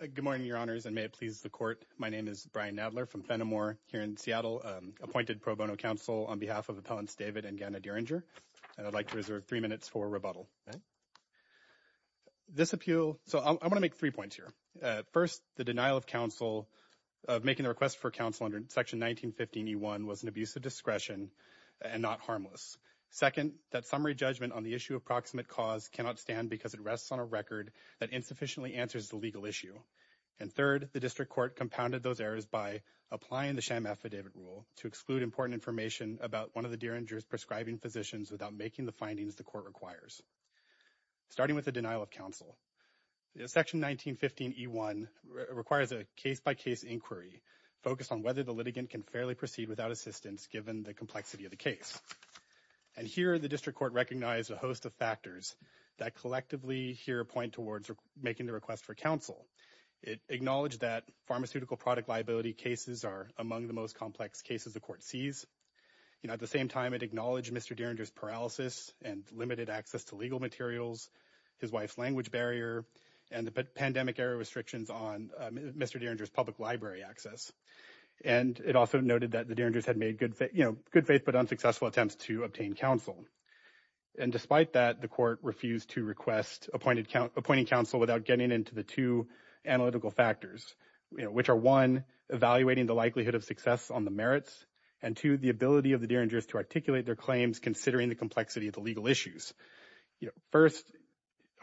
Good morning, Your Honors, and may it please the Court, my name is Brian Nadler from Fenimore here in Seattle, appointed pro bono counsel on behalf of Appellants David and Ganna Dearinger, and I'd like to reserve three minutes for rebuttal. This appeal, so I want to make three points here. First, the denial of counsel of making the request for counsel under Section 1915E1 was an abuse of discretion and not harmless. Second, that summary judgment on the issue of proximate cause cannot stand because it rests on a record that insufficiently answers the legal issue. And third, the district court compounded those errors by applying the sham affidavit rule to exclude important information about one of the Dearinger's prescribing physicians without making the findings the court requires. Starting with the denial of counsel, Section 1915E1 requires a case-by-case inquiry focused on whether the litigant can fairly proceed without assistance given the complexity of the case. And here the district court recognized a host of factors that collectively here point towards making the request for counsel. It acknowledged that pharmaceutical product liability cases are among the most complex cases the court sees. At the same time, it acknowledged Mr. Dearinger's legal materials, his wife's language barrier, and the pandemic error restrictions on Mr. Dearinger's public library access. And it also noted that the Dearingers had made good, you know, good faith but unsuccessful attempts to obtain counsel. And despite that, the court refused to request appointing counsel without getting into the two analytical factors, you know, which are one, evaluating the likelihood of success on the merits, and two, the ability of the Dearingers to articulate their claims considering the complexity of the legal issues. You know, first,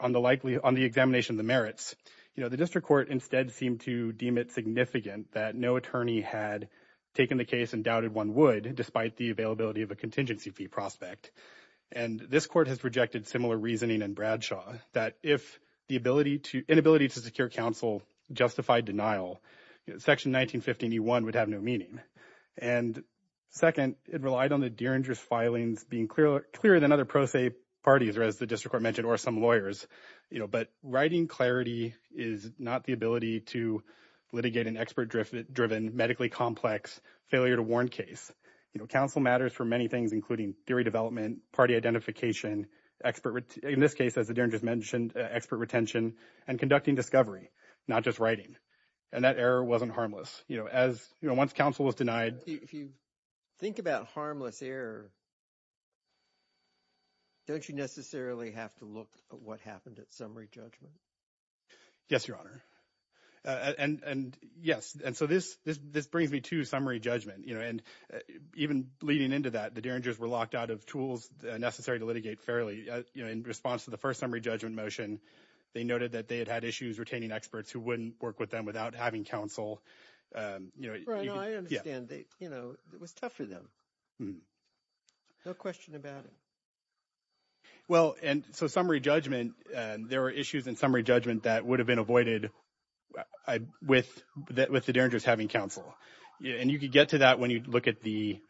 on the likely, on the examination of the merits, you know, the district court instead seemed to deem it significant that no attorney had taken the case and doubted one would despite the availability of a contingency fee prospect. And this court has projected similar reasoning in Bradshaw that if the ability to, inability to secure counsel justified denial, Section 1915E1 would have no meaning. And second, it relied on the Dearinger's filings being clearer than other pro se parties, or as the district court mentioned, or some lawyers, you know, but writing clarity is not the ability to litigate an expert-driven, medically complex, failure-to-warn case. You know, counsel matters for many things, including theory development, party identification, expert, in this case, as the Dearingers mentioned, expert retention, and conducting discovery, not just writing. And that error wasn't harmless. You know, as, you know, once counsel was denied, If you think about harmless error, don't you necessarily have to look at what happened at summary judgment? Yes, Your Honor. And yes, and so this brings me to summary judgment, you know, and even leading into that, the Dearingers were locked out of tools necessary to litigate fairly, you know, in response to the first summary judgment motion, they noted that they had had issues retaining experts who wouldn't work with them without having counsel, you know, I understand that, you know, it was tough for them. No question about it. Well, and so summary judgment, there were issues in summary judgment that would have been avoided with the Dearingers having counsel. And you could get to that when you look at the,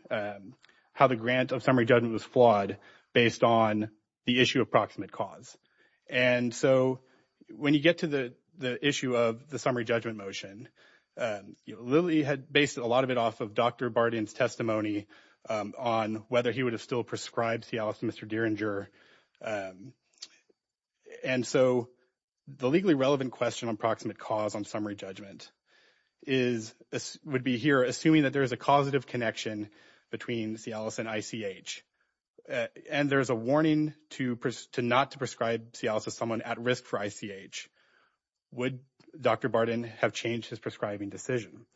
how the grant of summary judgment was flawed based on the issue of proximate cause. And so when you get to the issue of the summary judgment motion, Lilly had based a lot of it off of Dr. Barden's testimony on whether he would have still prescribed Cialis to Mr. Dearinger. And so the legally relevant question on proximate cause on summary judgment is, would be here, assuming that there is a causative connection between Cialis and ICH. And there's a warning to not to prescribe Cialis to someone at risk for ICH. Would Dr. Barden have changed his prescribing decision?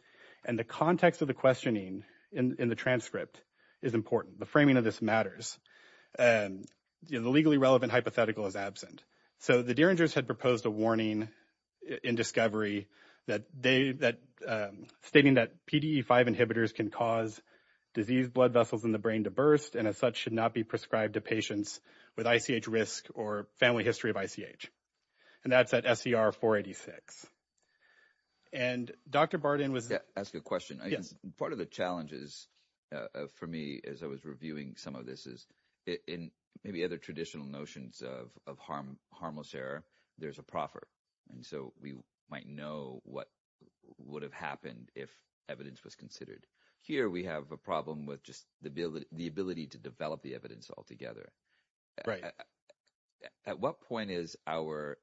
And the context of the questioning in the transcript is important. The framing of this matters. The legally relevant hypothetical is absent. So the Dearingers had proposed a warning in discovery that they, stating that PDE5 inhibitors can cause disease blood vessels in the brain to burst and as such should not be prescribed to patients with ICH risk or family history of ICH. And that's at SCR 486. And Dr. Barden was- Yeah, I'll ask you a question. Yes. Part of the challenges for me as I was reviewing some of this is in maybe other traditional notions of harmless error, there's a proffer. And so we might know what would have happened if evidence was considered. Here we have a problem with just the ability to develop the evidence altogether. At what point is our,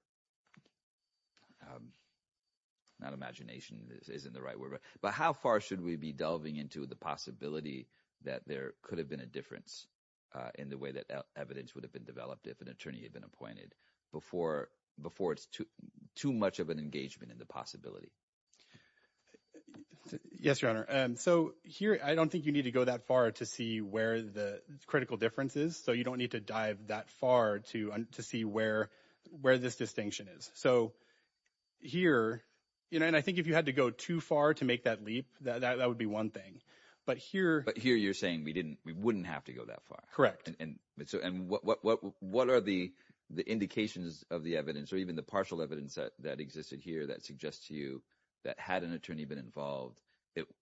not imagination, this isn't the right word, but how far should we be delving into the possibility that there could have been a difference in the way that evidence would have been developed if an attorney had been appointed before it's too much of an engagement in the possibility? Yes, Your Honor. So here, I don't think you need to go that far to see where the critical difference is. So you don't need to dive that far to see where this distinction is. So here, and I think if you had to go too far to make that leap, that would be one thing. But here- But here you're saying we wouldn't have to go that far. Correct. And what are the indications of the evidence or even the partial evidence that existed here that suggests to you that had an attorney been involved,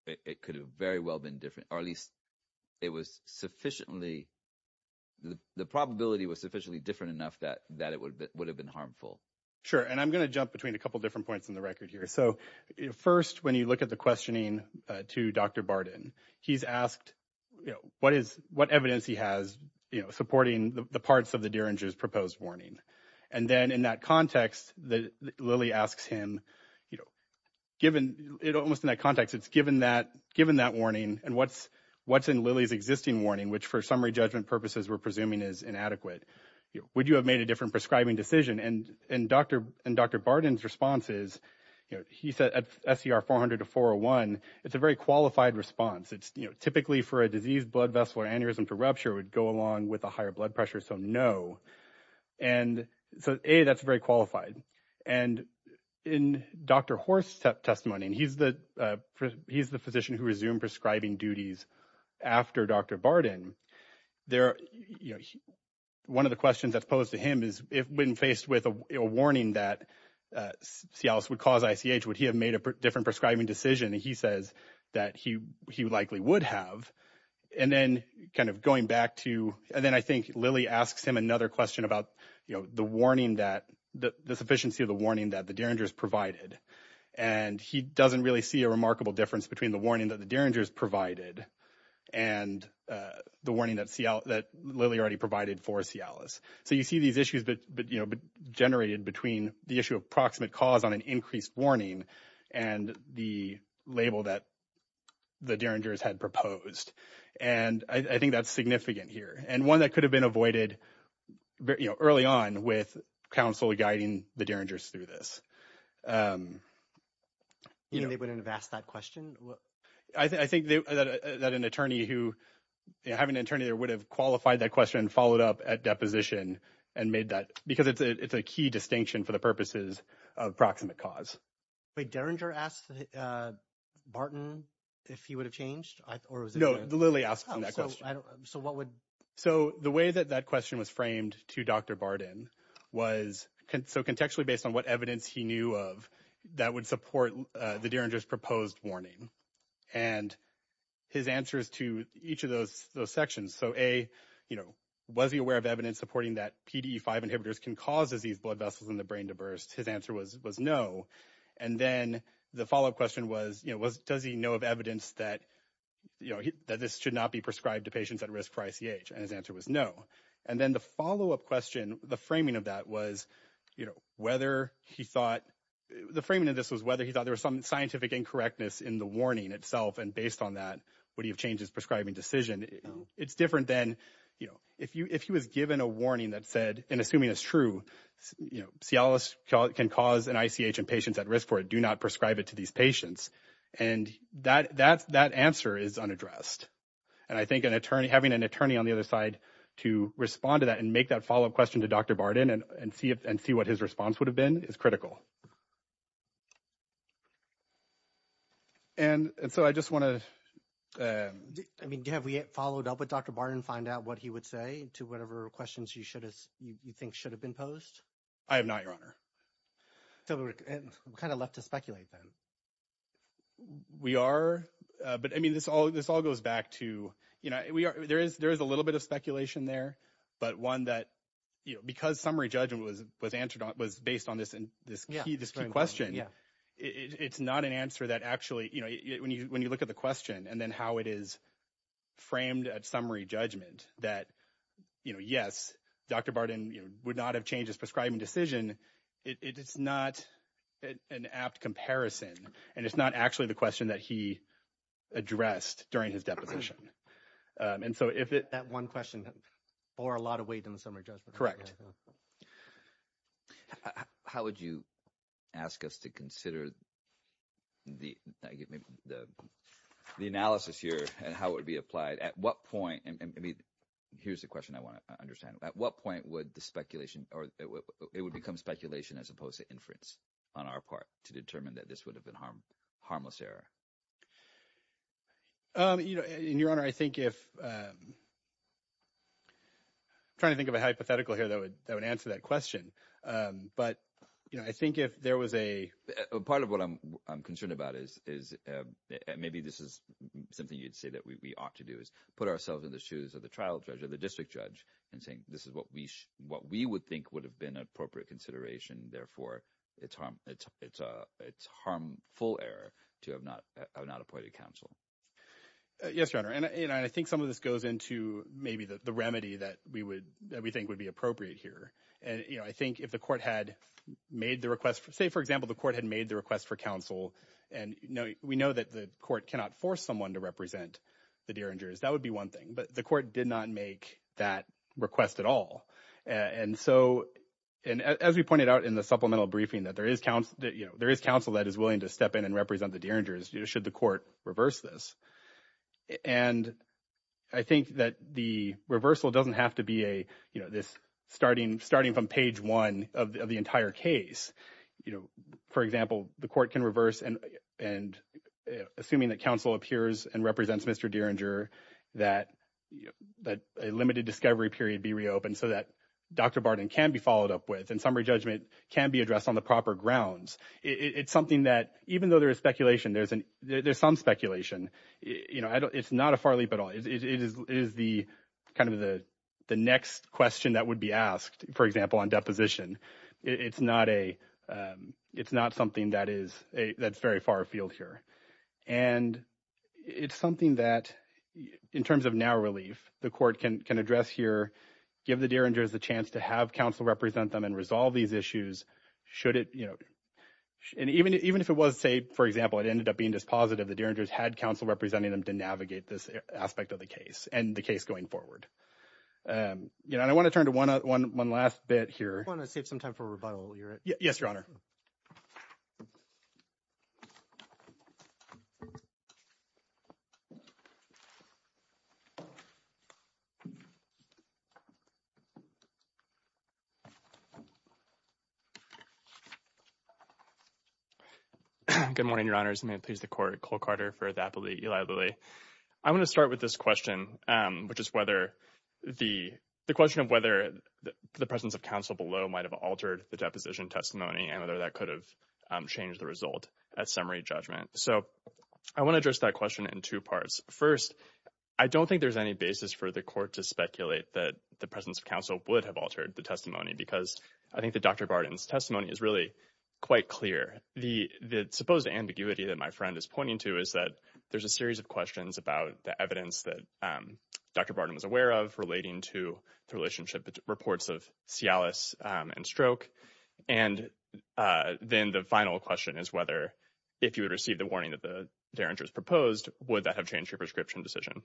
it could have very well been different, or at least it was sufficiently, the probability was sufficiently different enough that it would have been harmful? Sure. And I'm going to jump between a couple of different points in the record here. So first, when you look at the questioning to Dr. Barden, he's asked what evidence he has supporting the parts of the Dieringer's proposed warning. And then in that context, Lilly asks him, you know, given it almost in that context, it's given that warning, and what's in Lilly's existing warning, which for summary judgment purposes, we're presuming is inadequate. Would you have made a different prescribing decision? And Dr. Barden's response is, you know, he said at SCR 400 to 401, it's a very qualified response. It's, you know, typically for a diseased blood vessel, aneurysm for rupture would go along with a higher blood pressure, so no. And so A, that's very qualified. And in Dr. Horst's testimony, and he's the physician who resumed prescribing duties after Dr. Barden, there, you know, one of the questions that's posed to him is, if when faced with a warning that Cialis would cause ICH, would he have made a different prescribing decision? He says that he likely would have. And then kind of going back to, and then I think Lilly asks him another question about, you know, the warning that, the sufficiency of the warning that the Derringers provided. And he doesn't really see a remarkable difference between the warning that the Derringers provided and the warning that Lilly already provided for Cialis. So you see these issues that, you know, generated between the issue of proximate cause on an increased warning and the label that the Derringers had proposed. And I think that's significant here. And one that could have been avoided, you know, early on with counsel guiding the Derringers through this. You mean they wouldn't have asked that question? I think that an attorney who, you know, having an attorney there would have qualified that question and followed up at deposition and made that, because it's a key distinction for the Derringer asked Barton if he would have changed or was it? No, Lilly asked him that question. So what would? So the way that that question was framed to Dr. Barton was, so contextually based on what evidence he knew of that would support the Derringer's proposed warning and his answers to each of those sections. So A, you know, was he aware of evidence supporting that PDE5 inhibitors can cause disease blood vessels in the brain to burst? His answer was no. And then the follow-up question was, you know, was, does he know of evidence that, you know, that this should not be prescribed to patients at risk for ICH? And his answer was no. And then the follow-up question, the framing of that was, you know, whether he thought the framing of this was whether he thought there was some scientific incorrectness in the warning itself. And based on that, would he have changed his prescribing decision? It's different than, you know, if you, if he was given a warning that said, and assuming it's true, you know, can cause an ICH in patients at risk for it, do not prescribe it to these patients. And that answer is unaddressed. And I think an attorney, having an attorney on the other side to respond to that and make that follow-up question to Dr. Barton and see what his response would have been is critical. And so I just want to. I mean, have we followed up with Dr. Barton and find out what he would say to whatever questions you should have, you think should have been posed? I have not, Your Honor. So we're kind of left to speculate then. We are, but I mean, this all, this all goes back to, you know, we are, there is, there is a little bit of speculation there, but one that, you know, because summary judgment was, was answered on, was based on this and this key, this key question. It's not an answer that actually, you know, when you, when you look at the question and then how it is framed at summary judgment that, you know, yes, Dr. Barton would not have changed his prescribing decision. It's not an apt comparison and it's not actually the question that he addressed during his deposition. And so if it. That one question bore a lot of weight in the summary judgment. How would you ask us to consider the, the analysis here and how it would be applied? At what point, I mean, here's the question I want to understand. At what point would the speculation or it would become speculation as opposed to inference on our part to determine that this would have been harmless error? You know, and Your Honor, I think if, I'm trying to think of a hypothetical here that would, that would answer that question. But, you know, I think if there was a, part of what I'm, I'm concerned about is, is maybe this is something you'd say that we ought to do is put ourselves in the shoes of the trial judge or the district judge and saying this is what we, what we would think would have been appropriate consideration. Therefore, it's harmful error to have not appointed counsel. Yes, Your Honor. And I think some of this goes into maybe the remedy that we would, that we think would be appropriate here. And, you know, I think if the court had made the request for, say, for example, the court had made the request for counsel and we know that the court cannot force someone to represent the Derringers, that would be one thing. But the court did not make that request at all. And so, and as we pointed out in the supplemental briefing, that there is counsel, that, you know, there is counsel that is willing to step in and represent the Derringers, you know, should the court reverse this. And I think that the reversal doesn't have to be a, you know, this starting, starting from page one of the entire case. You know, for example, the court can reverse and, and assuming that counsel appears and represents Mr. Derringer, that, that a limited discovery period be reopened so that Dr. Barton can be followed up with and summary judgment can be addressed on the proper grounds. It's something that even though there is speculation, there's an, there's some speculation, you know, it's not a far leap at all. It is the kind of the next question that would be asked, for example, on deposition. It's not a, it's not something that is a, that's very far afield here. And it's something that, in terms of narrow relief, the court can, can address here, give the Derringers the chance to have counsel represent them and resolve these issues, should it, you know, and even, even if it was, say, for example, it ended up being dispositive, the Derringers had counsel representing them to navigate this aspect of the case and the case going forward. You know, and I want to turn to one, one, one last bit here. I want to save some time for rebuttal. You're right. Yes, Your Honor. Good morning, Your Honors. May it please the court, Cole Carter for the appellate Eli Lilly. I want to start with this question, which is whether the, the question of whether the presence of counsel below might have altered the deposition testimony and whether that could have changed the result at summary judgment. So I want to address that question in two parts. First, I don't think there's any basis for the court to speculate that the presence of counsel would have altered the testimony, because I think that Dr. Barton's testimony is really quite clear. The, the supposed ambiguity that my friend is pointing to is that there's a series of questions about the evidence that Dr. Barton was aware of relating to the relationship, reports of Cialis and stroke. And then the final question is whether, if you would receive the warning that the Derringers proposed, would that have changed your prescription decision?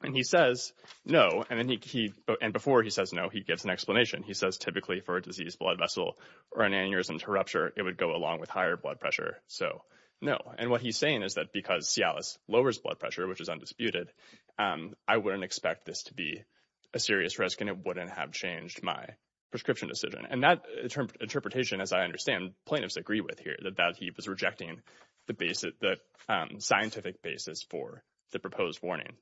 And he says no. And then he, and before he says no, he gives an explanation. He says, typically for a diseased blood vessel or an aneurysm to rupture, it would go along with higher blood pressure. So no. And what he's saying is that because Cialis lowers blood pressure, which is undisputed, I wouldn't expect this to be a serious risk and it wouldn't have changed my prescription decision. And that interpretation, as I understand, plaintiffs agree with here, that, that he was rejecting the basic, the scientific basis for the proposed warning.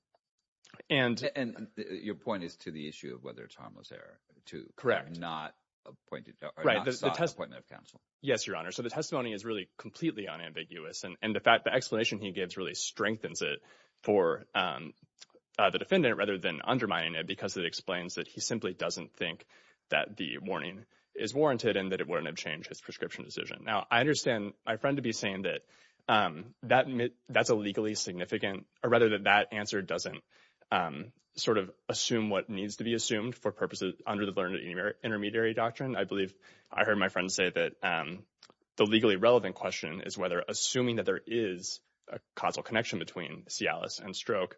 And. And your point is to the issue of whether it's harmless error to. Correct. Not appointed. Right. The appointment of counsel. Yes, Your Honor. So the testimony is really completely unambiguous. And the fact, the explanation he gives really strengthens it for the defendant rather than undermining it, because it explains that he simply doesn't think that the warning is warranted and that it wouldn't have changed his prescription decision. Now, I understand my friend to be saying that that that's a legally significant or rather that that answer doesn't sort of assume what needs to be assumed for purposes under the learned intermediary doctrine. I believe I heard my friend say that the legally relevant question is whether assuming that there is a causal connection between Cialis and stroke,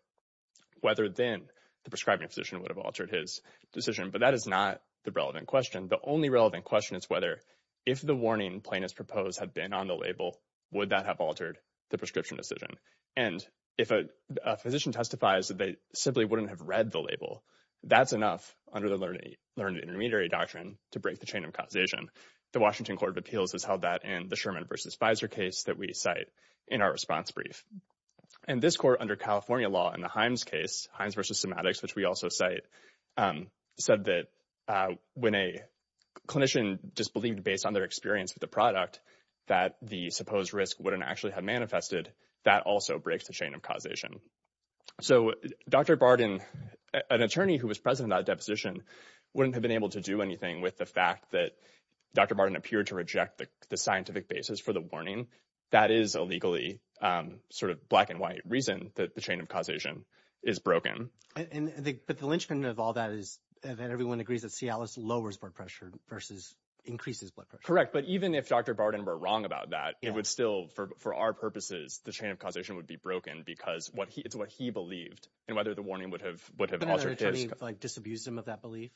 whether then the prescribing physician would have altered his decision. But that is not the relevant question. The only relevant question is whether if the warning plaintiffs propose had been on the label, would that have altered the prescription decision? And if a physician testifies that they simply wouldn't have read the label, that's enough under the learned, learned intermediary doctrine to break the chain of causation. The Washington Court of Appeals has held that and the Sherman versus Fizer case that we cite in our response brief. And this court under California law in the Himes case, Hines versus semantics, which we also cite, said that when a clinician disbelieved based on their experience with the product that the supposed risk wouldn't actually have manifested, that also breaks the chain of causation. So Dr. Barden, an attorney who was present in that deposition, wouldn't have been able to do anything with the fact that Dr. Barden appeared to the scientific basis for the warning. That is a legally sort of black and white reason that the chain of causation is broken. But the linchpin of all that is that everyone agrees that Cialis lowers blood pressure versus increases blood pressure. Correct. But even if Dr. Barden were wrong about that, it would still, for our purposes, the chain of causation would be broken because it's what he believed and whether the warning would have altered his. Would an attorney disabuse him of that belief?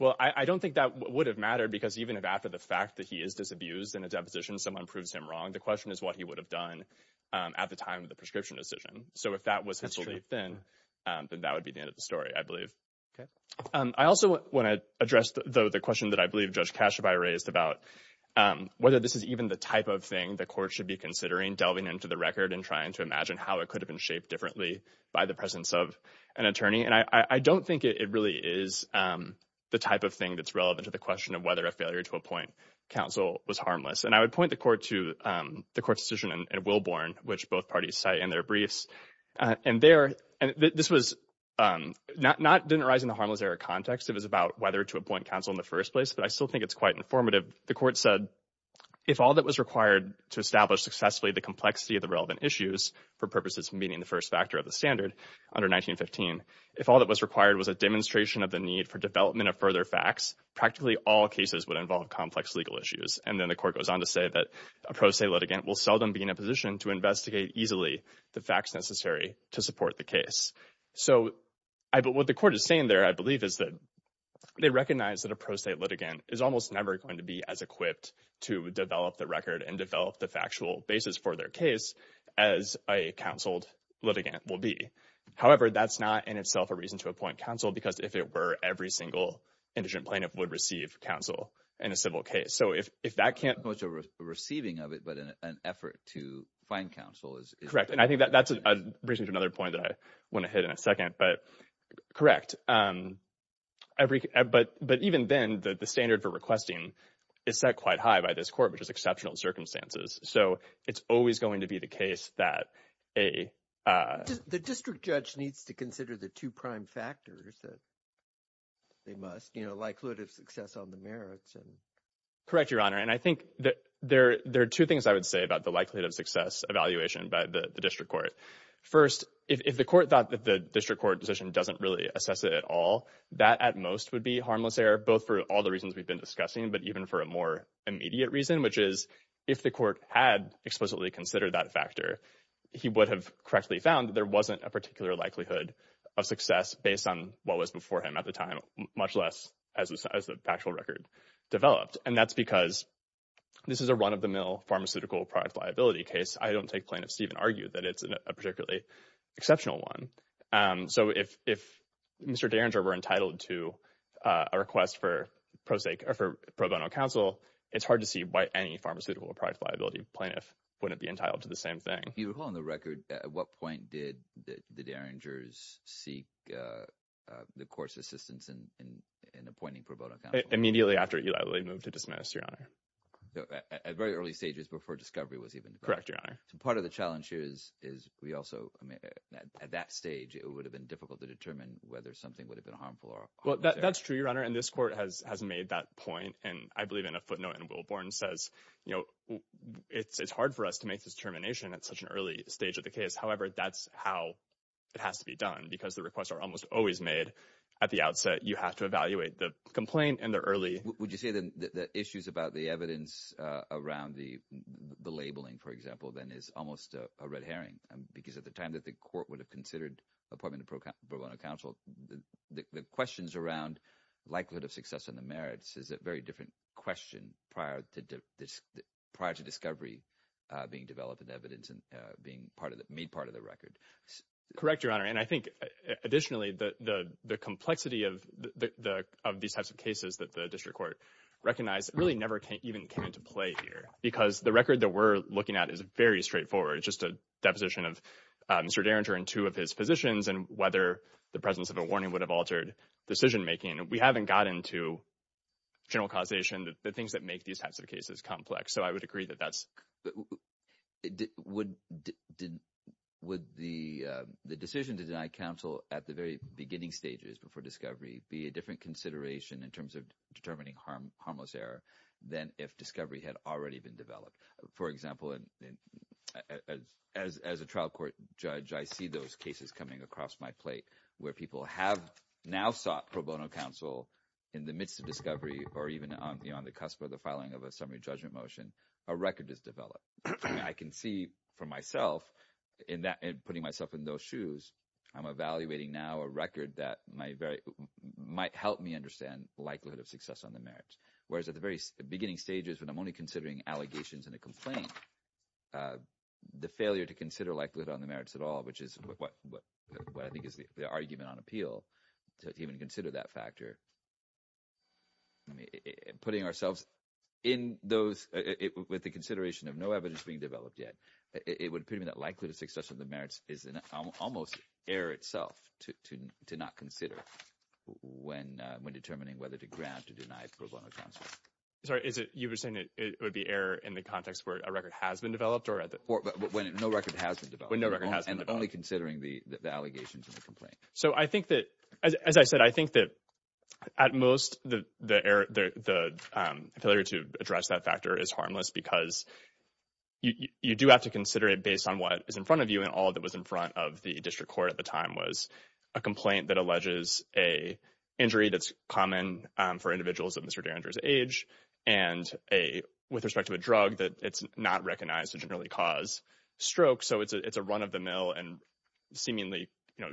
Well, I don't think that would have mattered because even if after the fact that he is disabused in a deposition, someone proves him wrong, the question is what he would have done at the time of the prescription decision. So if that was his belief then, then that would be the end of the story, I believe. I also want to address, though, the question that I believe Judge Kashubai raised about whether this is even the type of thing the court should be considering delving into the record and trying to imagine how it could have been shaped differently by the presence of an attorney. And I don't think it really is the type of thing that's relevant to the question of whether a failure to appoint counsel was harmless. And I would point the court to the court's decision in Wilborn, which both parties cite in their briefs. And there, and this was not, didn't arise in the harmless era context. It was about whether to appoint counsel in the first place. But I still think it's quite informative. The court said, if all that was required to establish successfully the complexity of the relevant issues for purposes meeting the first factor of the standard under 1915, if all that was required was a demonstration of the need for development of further facts, practically all cases would involve complex legal issues. And then the court goes on to say that a pro se litigant will seldom be in a position to investigate easily the facts necessary to support the case. So what the court is saying there, I believe, is that they recognize that a pro se litigant is almost never going to be as equipped to develop the record and develop the factual basis for their case as a counseled litigant will be. However, that's not in itself a reason to appoint counsel, because if it were, every single indigent plaintiff would receive counsel in a civil case. So if that can't- Much a receiving of it, but an effort to find counsel is- Correct. And I think that's a reason for another point that I want to hit in a second, but correct. But even then, the standard for requesting is set quite high by this court, which is exceptional circumstances. So it's always going to be the case that a- The district judge needs to consider the two prime factors that they must, you know, likelihood of success on the merits and- Correct, Your Honor. And I think that there are two things I would say about the likelihood of success evaluation by the district court. First, if the court thought that the district court decision doesn't really assess it at all, that at most would be harmless error, both for all the reasons we've been discussing, but even for a more immediate reason, which is if the court had explicitly considered that factor, he would have correctly found that there wasn't a particular likelihood of success based on what was before him at the time, much less as the actual record developed. And that's because this is a run-of-the-mill pharmaceutical product liability case. I don't take plaintiff's even argue that it's a particularly exceptional one. So if Mr. Derringer were entitled to a request for pro bono counsel, it's hard to see why any pharmaceutical product liability plaintiff wouldn't be entitled to the same thing. If you recall on the record, at what point did the Derringers seek the court's assistance in appointing pro bono counsel? Immediately after Eli Lilly moved to dismiss, Your Honor. At very early stages before discovery was even- Correct, Your Honor. So part of the challenge is we also- I mean, at that stage, it would have been difficult to determine whether something would have been harmful or- Well, that's true, Your Honor. And this court has made that point. And I believe in a footnote in Wilborn says, it's hard for us to make this determination at such an early stage of the case. However, that's how it has to be done because the requests are almost always made at the outset. You have to evaluate the complaint in the early- Would you say that the issues about the evidence around the labeling, for example, then is almost a red herring? Because at the time that the court would have considered appointing pro bono counsel, the questions around likelihood of success and the merits is a very different question prior to discovery being developed and evidence being made part of the record. Correct, Your Honor. And I think, additionally, the complexity of these types of cases that the district court recognized really never even came into play here because the record that we're looking at is very straightforward. It's just a deposition of Mr. Derringer and two of his physicians and whether the presence of a warning would have altered decision making. We haven't got into general causation, the things that make these types of cases complex. So I would agree that that's- Would the decision to deny counsel at the very beginning stages before discovery be a different consideration in terms of determining harmless error than if discovery had already been developed? For example, as a trial court judge, I see those cases coming across my plate where people have now sought pro bono counsel in the midst of discovery or even on the cusp of the filing of a summary judgment motion, a record is developed. I can see for myself in putting myself in those shoes, I'm evaluating now a record that might help me understand likelihood of success on the merits. Whereas at the very beginning stages, when I'm only considering allegations and a complaint, the failure to consider likelihood on the merits at all, which is what I think is the argument on appeal to even consider that factor. I mean, putting ourselves in those- With the consideration of no evidence being developed yet, it would appear to me that likelihood of success of the merits is almost error itself to not consider when determining whether to grant or deny pro bono counsel. Sorry, is it- You were saying it would be error in the context where a record has been developed or at the- When no record has been developed. When no record has been developed. And only considering the allegations and the complaint. So I think that, as I said, I think that at most the failure to address that factor is harmless because you do have to consider it on what is in front of you and all that was in front of the district court at the time was a complaint that alleges a injury that's common for individuals of Mr. Derringer's age and a- with respect to a drug that it's not recognized to generally cause stroke. So it's a run-of-the-mill and seemingly, you know,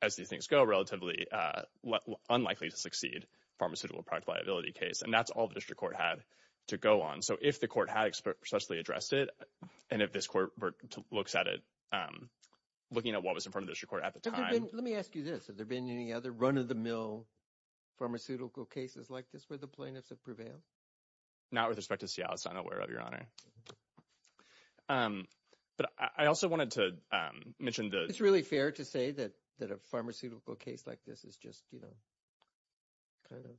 as these things go, relatively unlikely to succeed pharmaceutical product liability case. And that's all the district court had to go on. So if the court successfully addressed it, and if this court looks at it, looking at what was in front of the district court at the time- Let me ask you this. Have there been any other run-of-the-mill pharmaceutical cases like this where the plaintiffs have prevailed? Not with respect to Seattle. I'm not aware of, Your Honor. But I also wanted to mention the- It's really fair to say that a pharmaceutical case like this is just, you know, kind of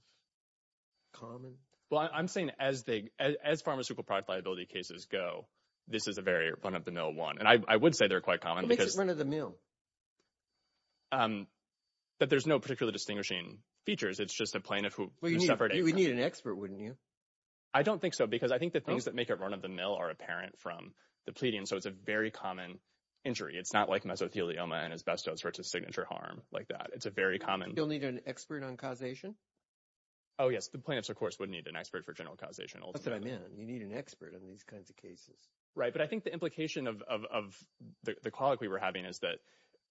common? Well, I'm saying as they- as pharmaceutical product liability cases go, this is a very run-of-the-mill one. And I would say they're quite common because- What makes it run-of-the-mill? That there's no particularly distinguishing features. It's just a plaintiff who suffered- You'd need an expert, wouldn't you? I don't think so because I think the things that make it run-of-the-mill are apparent from the pleading. So it's a very common injury. It's not like mesothelioma and asbestos where it's a signature harm like that. It's a very common- You'll need an expert on causation? Oh, yes. The plaintiffs, of course, would need an expert for general causation. That's what I meant. You need an expert on these kinds of cases. Right. But I think the implication of the call we were having is that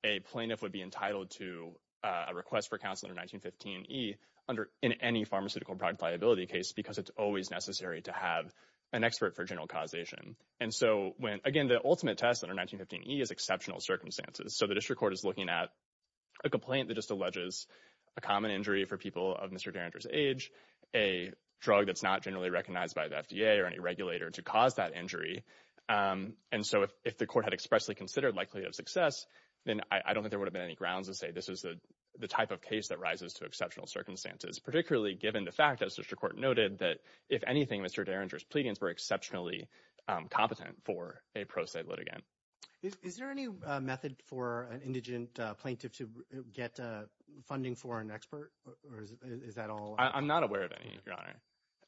a plaintiff would be entitled to a request for counsel under 1915e under- in any pharmaceutical product liability case because it's always necessary to have an expert for general causation. And so when- again, the ultimate test under 1915e is exceptional circumstances. So the district court is looking at a complaint that just alleges a common injury for people of Mr. Derringer's age, a drug that's not generally recognized by the FDA or any regulator to cause that injury. And so if the court had expressly considered likelihood of success, then I don't think there would have been any grounds to say this is the type of case that rises to exceptional circumstances, particularly given the fact, as the district court noted, that if anything, Mr. Derringer's pleadings were exceptionally competent for a pro se litigant. Is there any method for an indigent plaintiff to get funding for an expert or is that all? I'm not aware of any, Your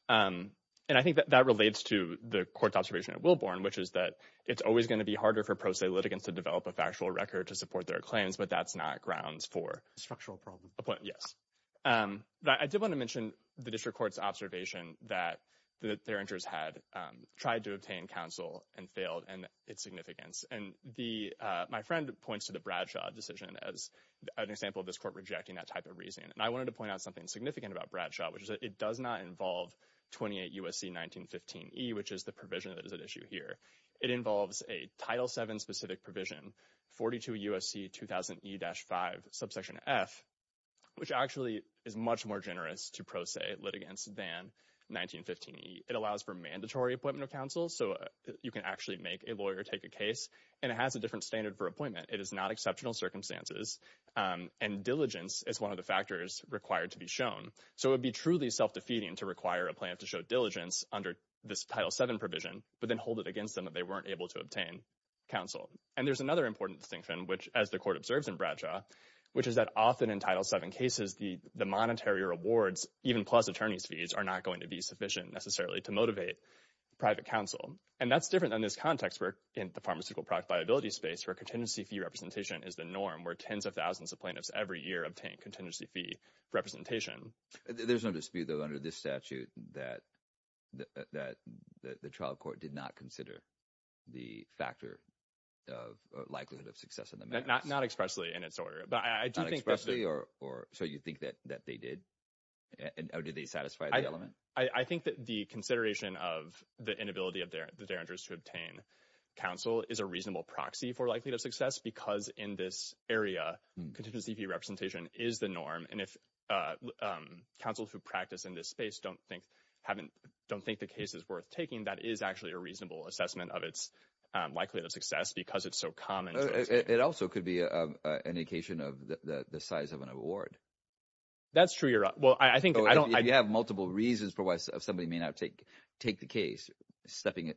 Honor. And I think that that relates to the court's observation at Wilborn, which is that it's always going to be harder for pro se litigants to develop a factual record to support their claims, but that's not grounds for- Structural problem. Yes. But I did want to mention the district court's observation that Derringer's had its significance. And my friend points to the Bradshaw decision as an example of this court rejecting that type of reasoning. And I wanted to point out something significant about Bradshaw, which is that it does not involve 28 U.S.C. 1915E, which is the provision that is at issue here. It involves a Title VII specific provision, 42 U.S.C. 2000E-5, subsection F, which actually is much more generous to pro se litigants than 1915E. It allows for mandatory appointment of a lawyer, take a case, and it has a different standard for appointment. It is not exceptional circumstances. And diligence is one of the factors required to be shown. So it would be truly self-defeating to require a plaintiff to show diligence under this Title VII provision, but then hold it against them that they weren't able to obtain counsel. And there's another important distinction, which as the court observes in Bradshaw, which is that often in Title VII cases, the monetary rewards, even plus attorney's fees, are not going to be sufficient necessarily to motivate private counsel. And that's different in this context, where in the pharmaceutical product liability space, where contingency fee representation is the norm, where tens of thousands of plaintiffs every year obtain contingency fee representation. There's no dispute, though, under this statute, that the trial court did not consider the factor of likelihood of success in the matter. Not expressly in its order, but I do think... Not expressly, or so you think that they did? Or did they satisfy the element? I think that the consideration of the inability of the derringers to obtain counsel is a reasonable proxy for likelihood of success, because in this area, contingency fee representation is the norm. And if counsels who practice in this space don't think haven't, don't think the case is worth taking, that is actually a reasonable assessment of its likelihood of success, because it's so common. It also could be an indication of the size of an award. That's true. Well, I think... You have multiple reasons for why somebody may take the case, stepping...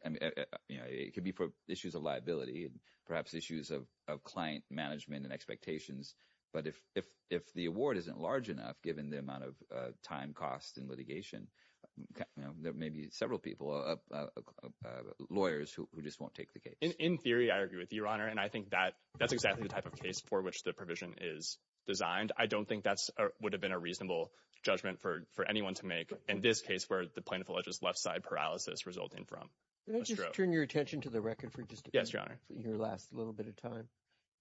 It could be for issues of liability, perhaps issues of client management and expectations. But if the award isn't large enough, given the amount of time, cost, and litigation, there may be several people, lawyers who just won't take the case. In theory, I agree with you, Your Honor. And I think that that's exactly the type of case for which the provision is designed. I don't think that would have been a reasonable judgment for anyone to make in this case where the plaintiff alleges left-side paralysis resulting from a stroke. Can I just turn your attention to the record for just a minute? Yes, Your Honor. For your last little bit of time,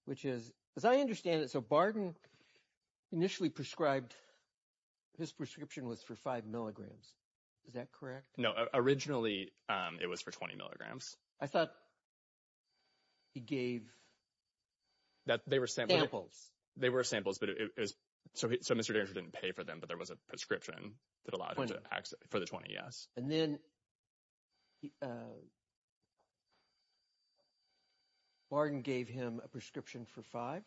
which is, as I understand it, so Barden initially prescribed, his prescription was for five milligrams. Is that correct? No. Originally, it was for 20 milligrams. I thought he gave... That they were... Samples. They were samples, but it was... So Mr. Derentra didn't pay for them, but there was a prescription that allowed him to access... For the 20, yes. And then Barden gave him a prescription for five?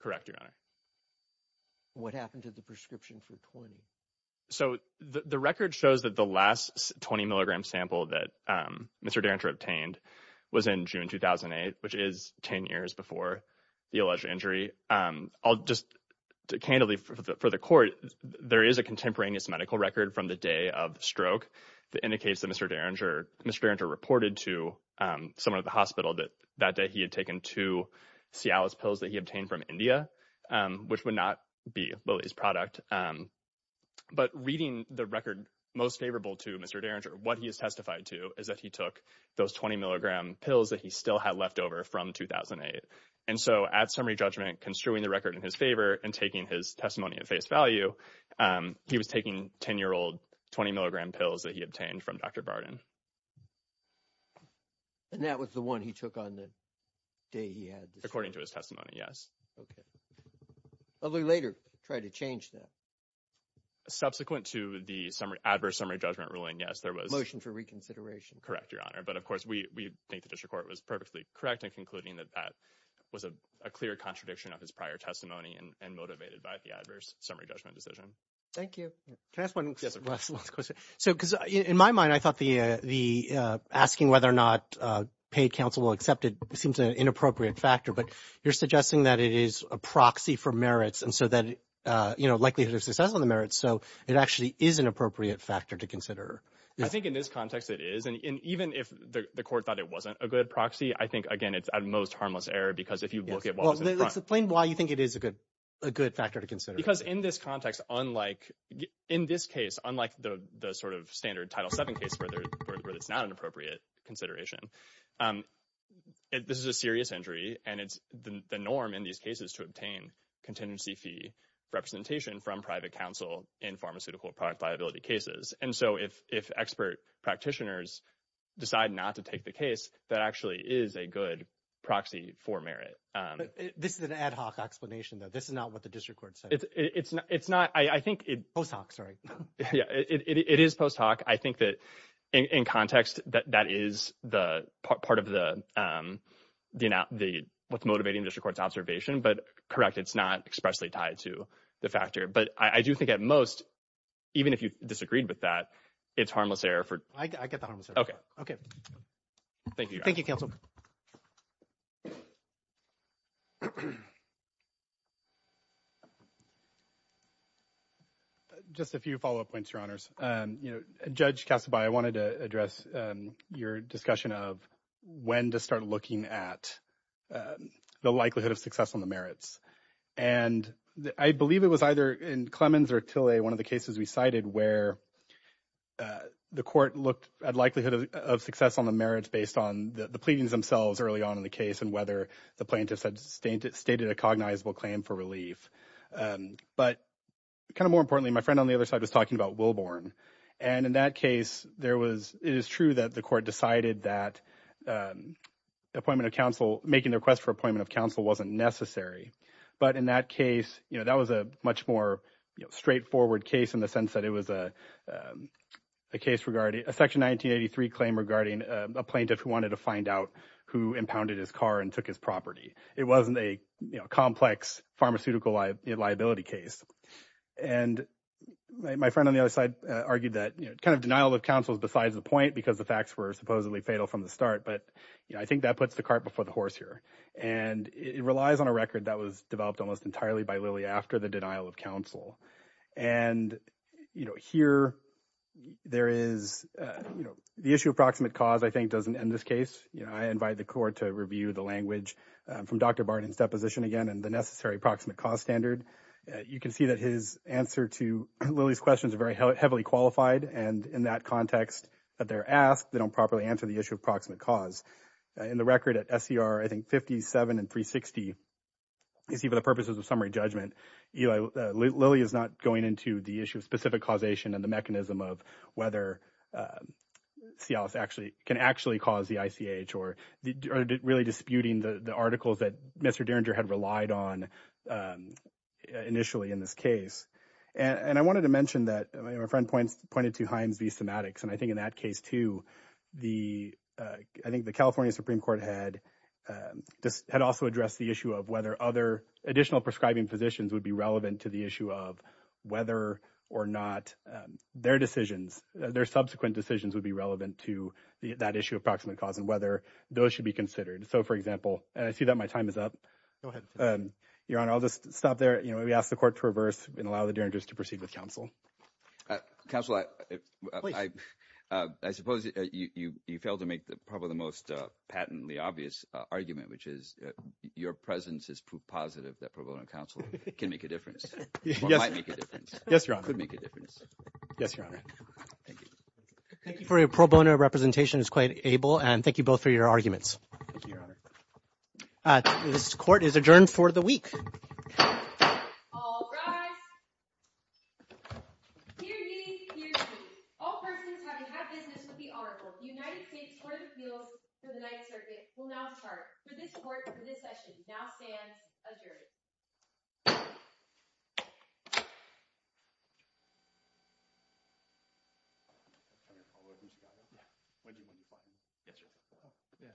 Correct, Your Honor. What happened to the prescription for 20? So the record shows that the last 20-milligram sample that Mr. Derentra obtained was in June 2008, which is 10 years before the alleged injury. I'll just... Candidly, for the court, there is a contemporaneous medical record from the day of the stroke that indicates that Mr. Derentra reported to someone at the hospital that that day he had taken two Cialis pills that he obtained from India, which would not be Willie's product. But reading the record most favorable to Mr. Derentra, what he has testified to is that he took those 20-milligram pills that he still had left over from 2008. And so, at summary judgment, construing the record in his favor and taking his testimony at face value, he was taking 10-year-old 20-milligram pills that he obtained from Dr. Barden. And that was the one he took on the day he had the... According to his testimony, yes. Okay. I'll later try to change that. Subsequent to the adverse summary judgment ruling, yes, there was... Motion for reconsideration. Correct, Your Honor. But, of course, we think the district court was perfectly correct in concluding that that was a clear contradiction of his prior testimony and motivated by the adverse summary judgment decision. Thank you. Can I ask one last question? So, because in my mind, I thought the asking whether or not paid counsel will accept it seems an inappropriate factor. But you're suggesting that it is a proxy for merits and so that, you know, likelihood of success on the merits. So it actually is an appropriate factor to consider. I think in this context, it is. And even if the court thought it wasn't a good proxy, I think, again, it's at most harmless error because if you look at what was in front... Explain why you think it is a good factor to consider. Because in this context, unlike in this case, unlike the sort of standard Title VII case where it's not an appropriate consideration, this is a serious injury. And it's the norm in these cases to obtain contingency fee representation from private counsel in pharmaceutical product liability cases. And so if expert practitioners decide not to take the case, that actually is a good proxy for merit. This is an ad hoc explanation, though. This is not what the district court said. It's not. I think it... Post hoc, sorry. Yeah, it is post hoc. I think that in context, that is part of what's motivating district court's observation. But correct, it's not expressly tied to the factor. But I do think at most, even if you disagreed with that, it's harmless error for... I get the harmless error. OK. OK. Thank you. Thank you, counsel. Just a few follow-up points, Your Honors. Judge Kassebai, I wanted to address your discussion of when to start looking at the likelihood of success on the merits. And I believe it was either in Clemens or Tillet, one of the cases we cited where the court looked at likelihood of success on the merits based on the pleadings themselves early on in the case and whether the plaintiffs had stated a cognizable claim for relief. But kind of more importantly, my friend on the other side was talking about Wilborn. And in that case, it is true that the court decided that appointment of counsel, making the request for appointment of counsel wasn't necessary. But in that case, that was a much more straightforward case in the sense that it was a case regarding a Section 1983 claim regarding a plaintiff who wanted to find out who impounded his car and took his property. It wasn't a complex pharmaceutical liability case. And my friend on the other side argued that kind of denial of counsel is besides the point because the facts were supposedly fatal from the start. But I think that puts the cart before the horse here. And it relies on a record that was developed almost entirely by Lilly after the denial of counsel. And, you know, here there is, you know, the issue of proximate cause, I think, doesn't end this case. I invite the court to review the language from Dr. Barton's deposition again and the necessary proximate cause standard. You can see that his answer to Lilly's questions are very heavily qualified. And in that context that they're asked, they don't properly answer the issue of proximate cause. In the record at SCR, I think 57 and 360, you see for the purposes of summary judgment, Lilly is not going into the issue of specific causation and the mechanism of whether Cialis actually can actually cause the ICH or really disputing the articles that Mr. Derringer had relied on initially in this case. And I wanted to mention that my friend pointed to Himes v. Somatics. And I think in that case, too, I think the California Supreme Court had just had also addressed the issue of whether other additional prescribing physicians would be relevant to the issue of whether or not their decisions, their subsequent decisions would be relevant to that issue of proximate cause and whether those should be considered. So, for example, and I see that my time is up. Your Honor, I'll just stop there. You know, we asked the court to reverse and allow the counsel. I suppose you failed to make the probably the most patently obvious argument, which is your presence is proof positive that pro bono counsel can make a difference. Yes, Your Honor. Could make a difference. Yes, Your Honor. Thank you for your pro bono representation is quite able. And thank you both for your arguments. This court is adjourned for the week. All rise. Hear ye, hear ye. All persons having had business with the Honorable United States Court of Appeals for the Ninth Circuit will now depart for this court for this session. Now stands adjourned.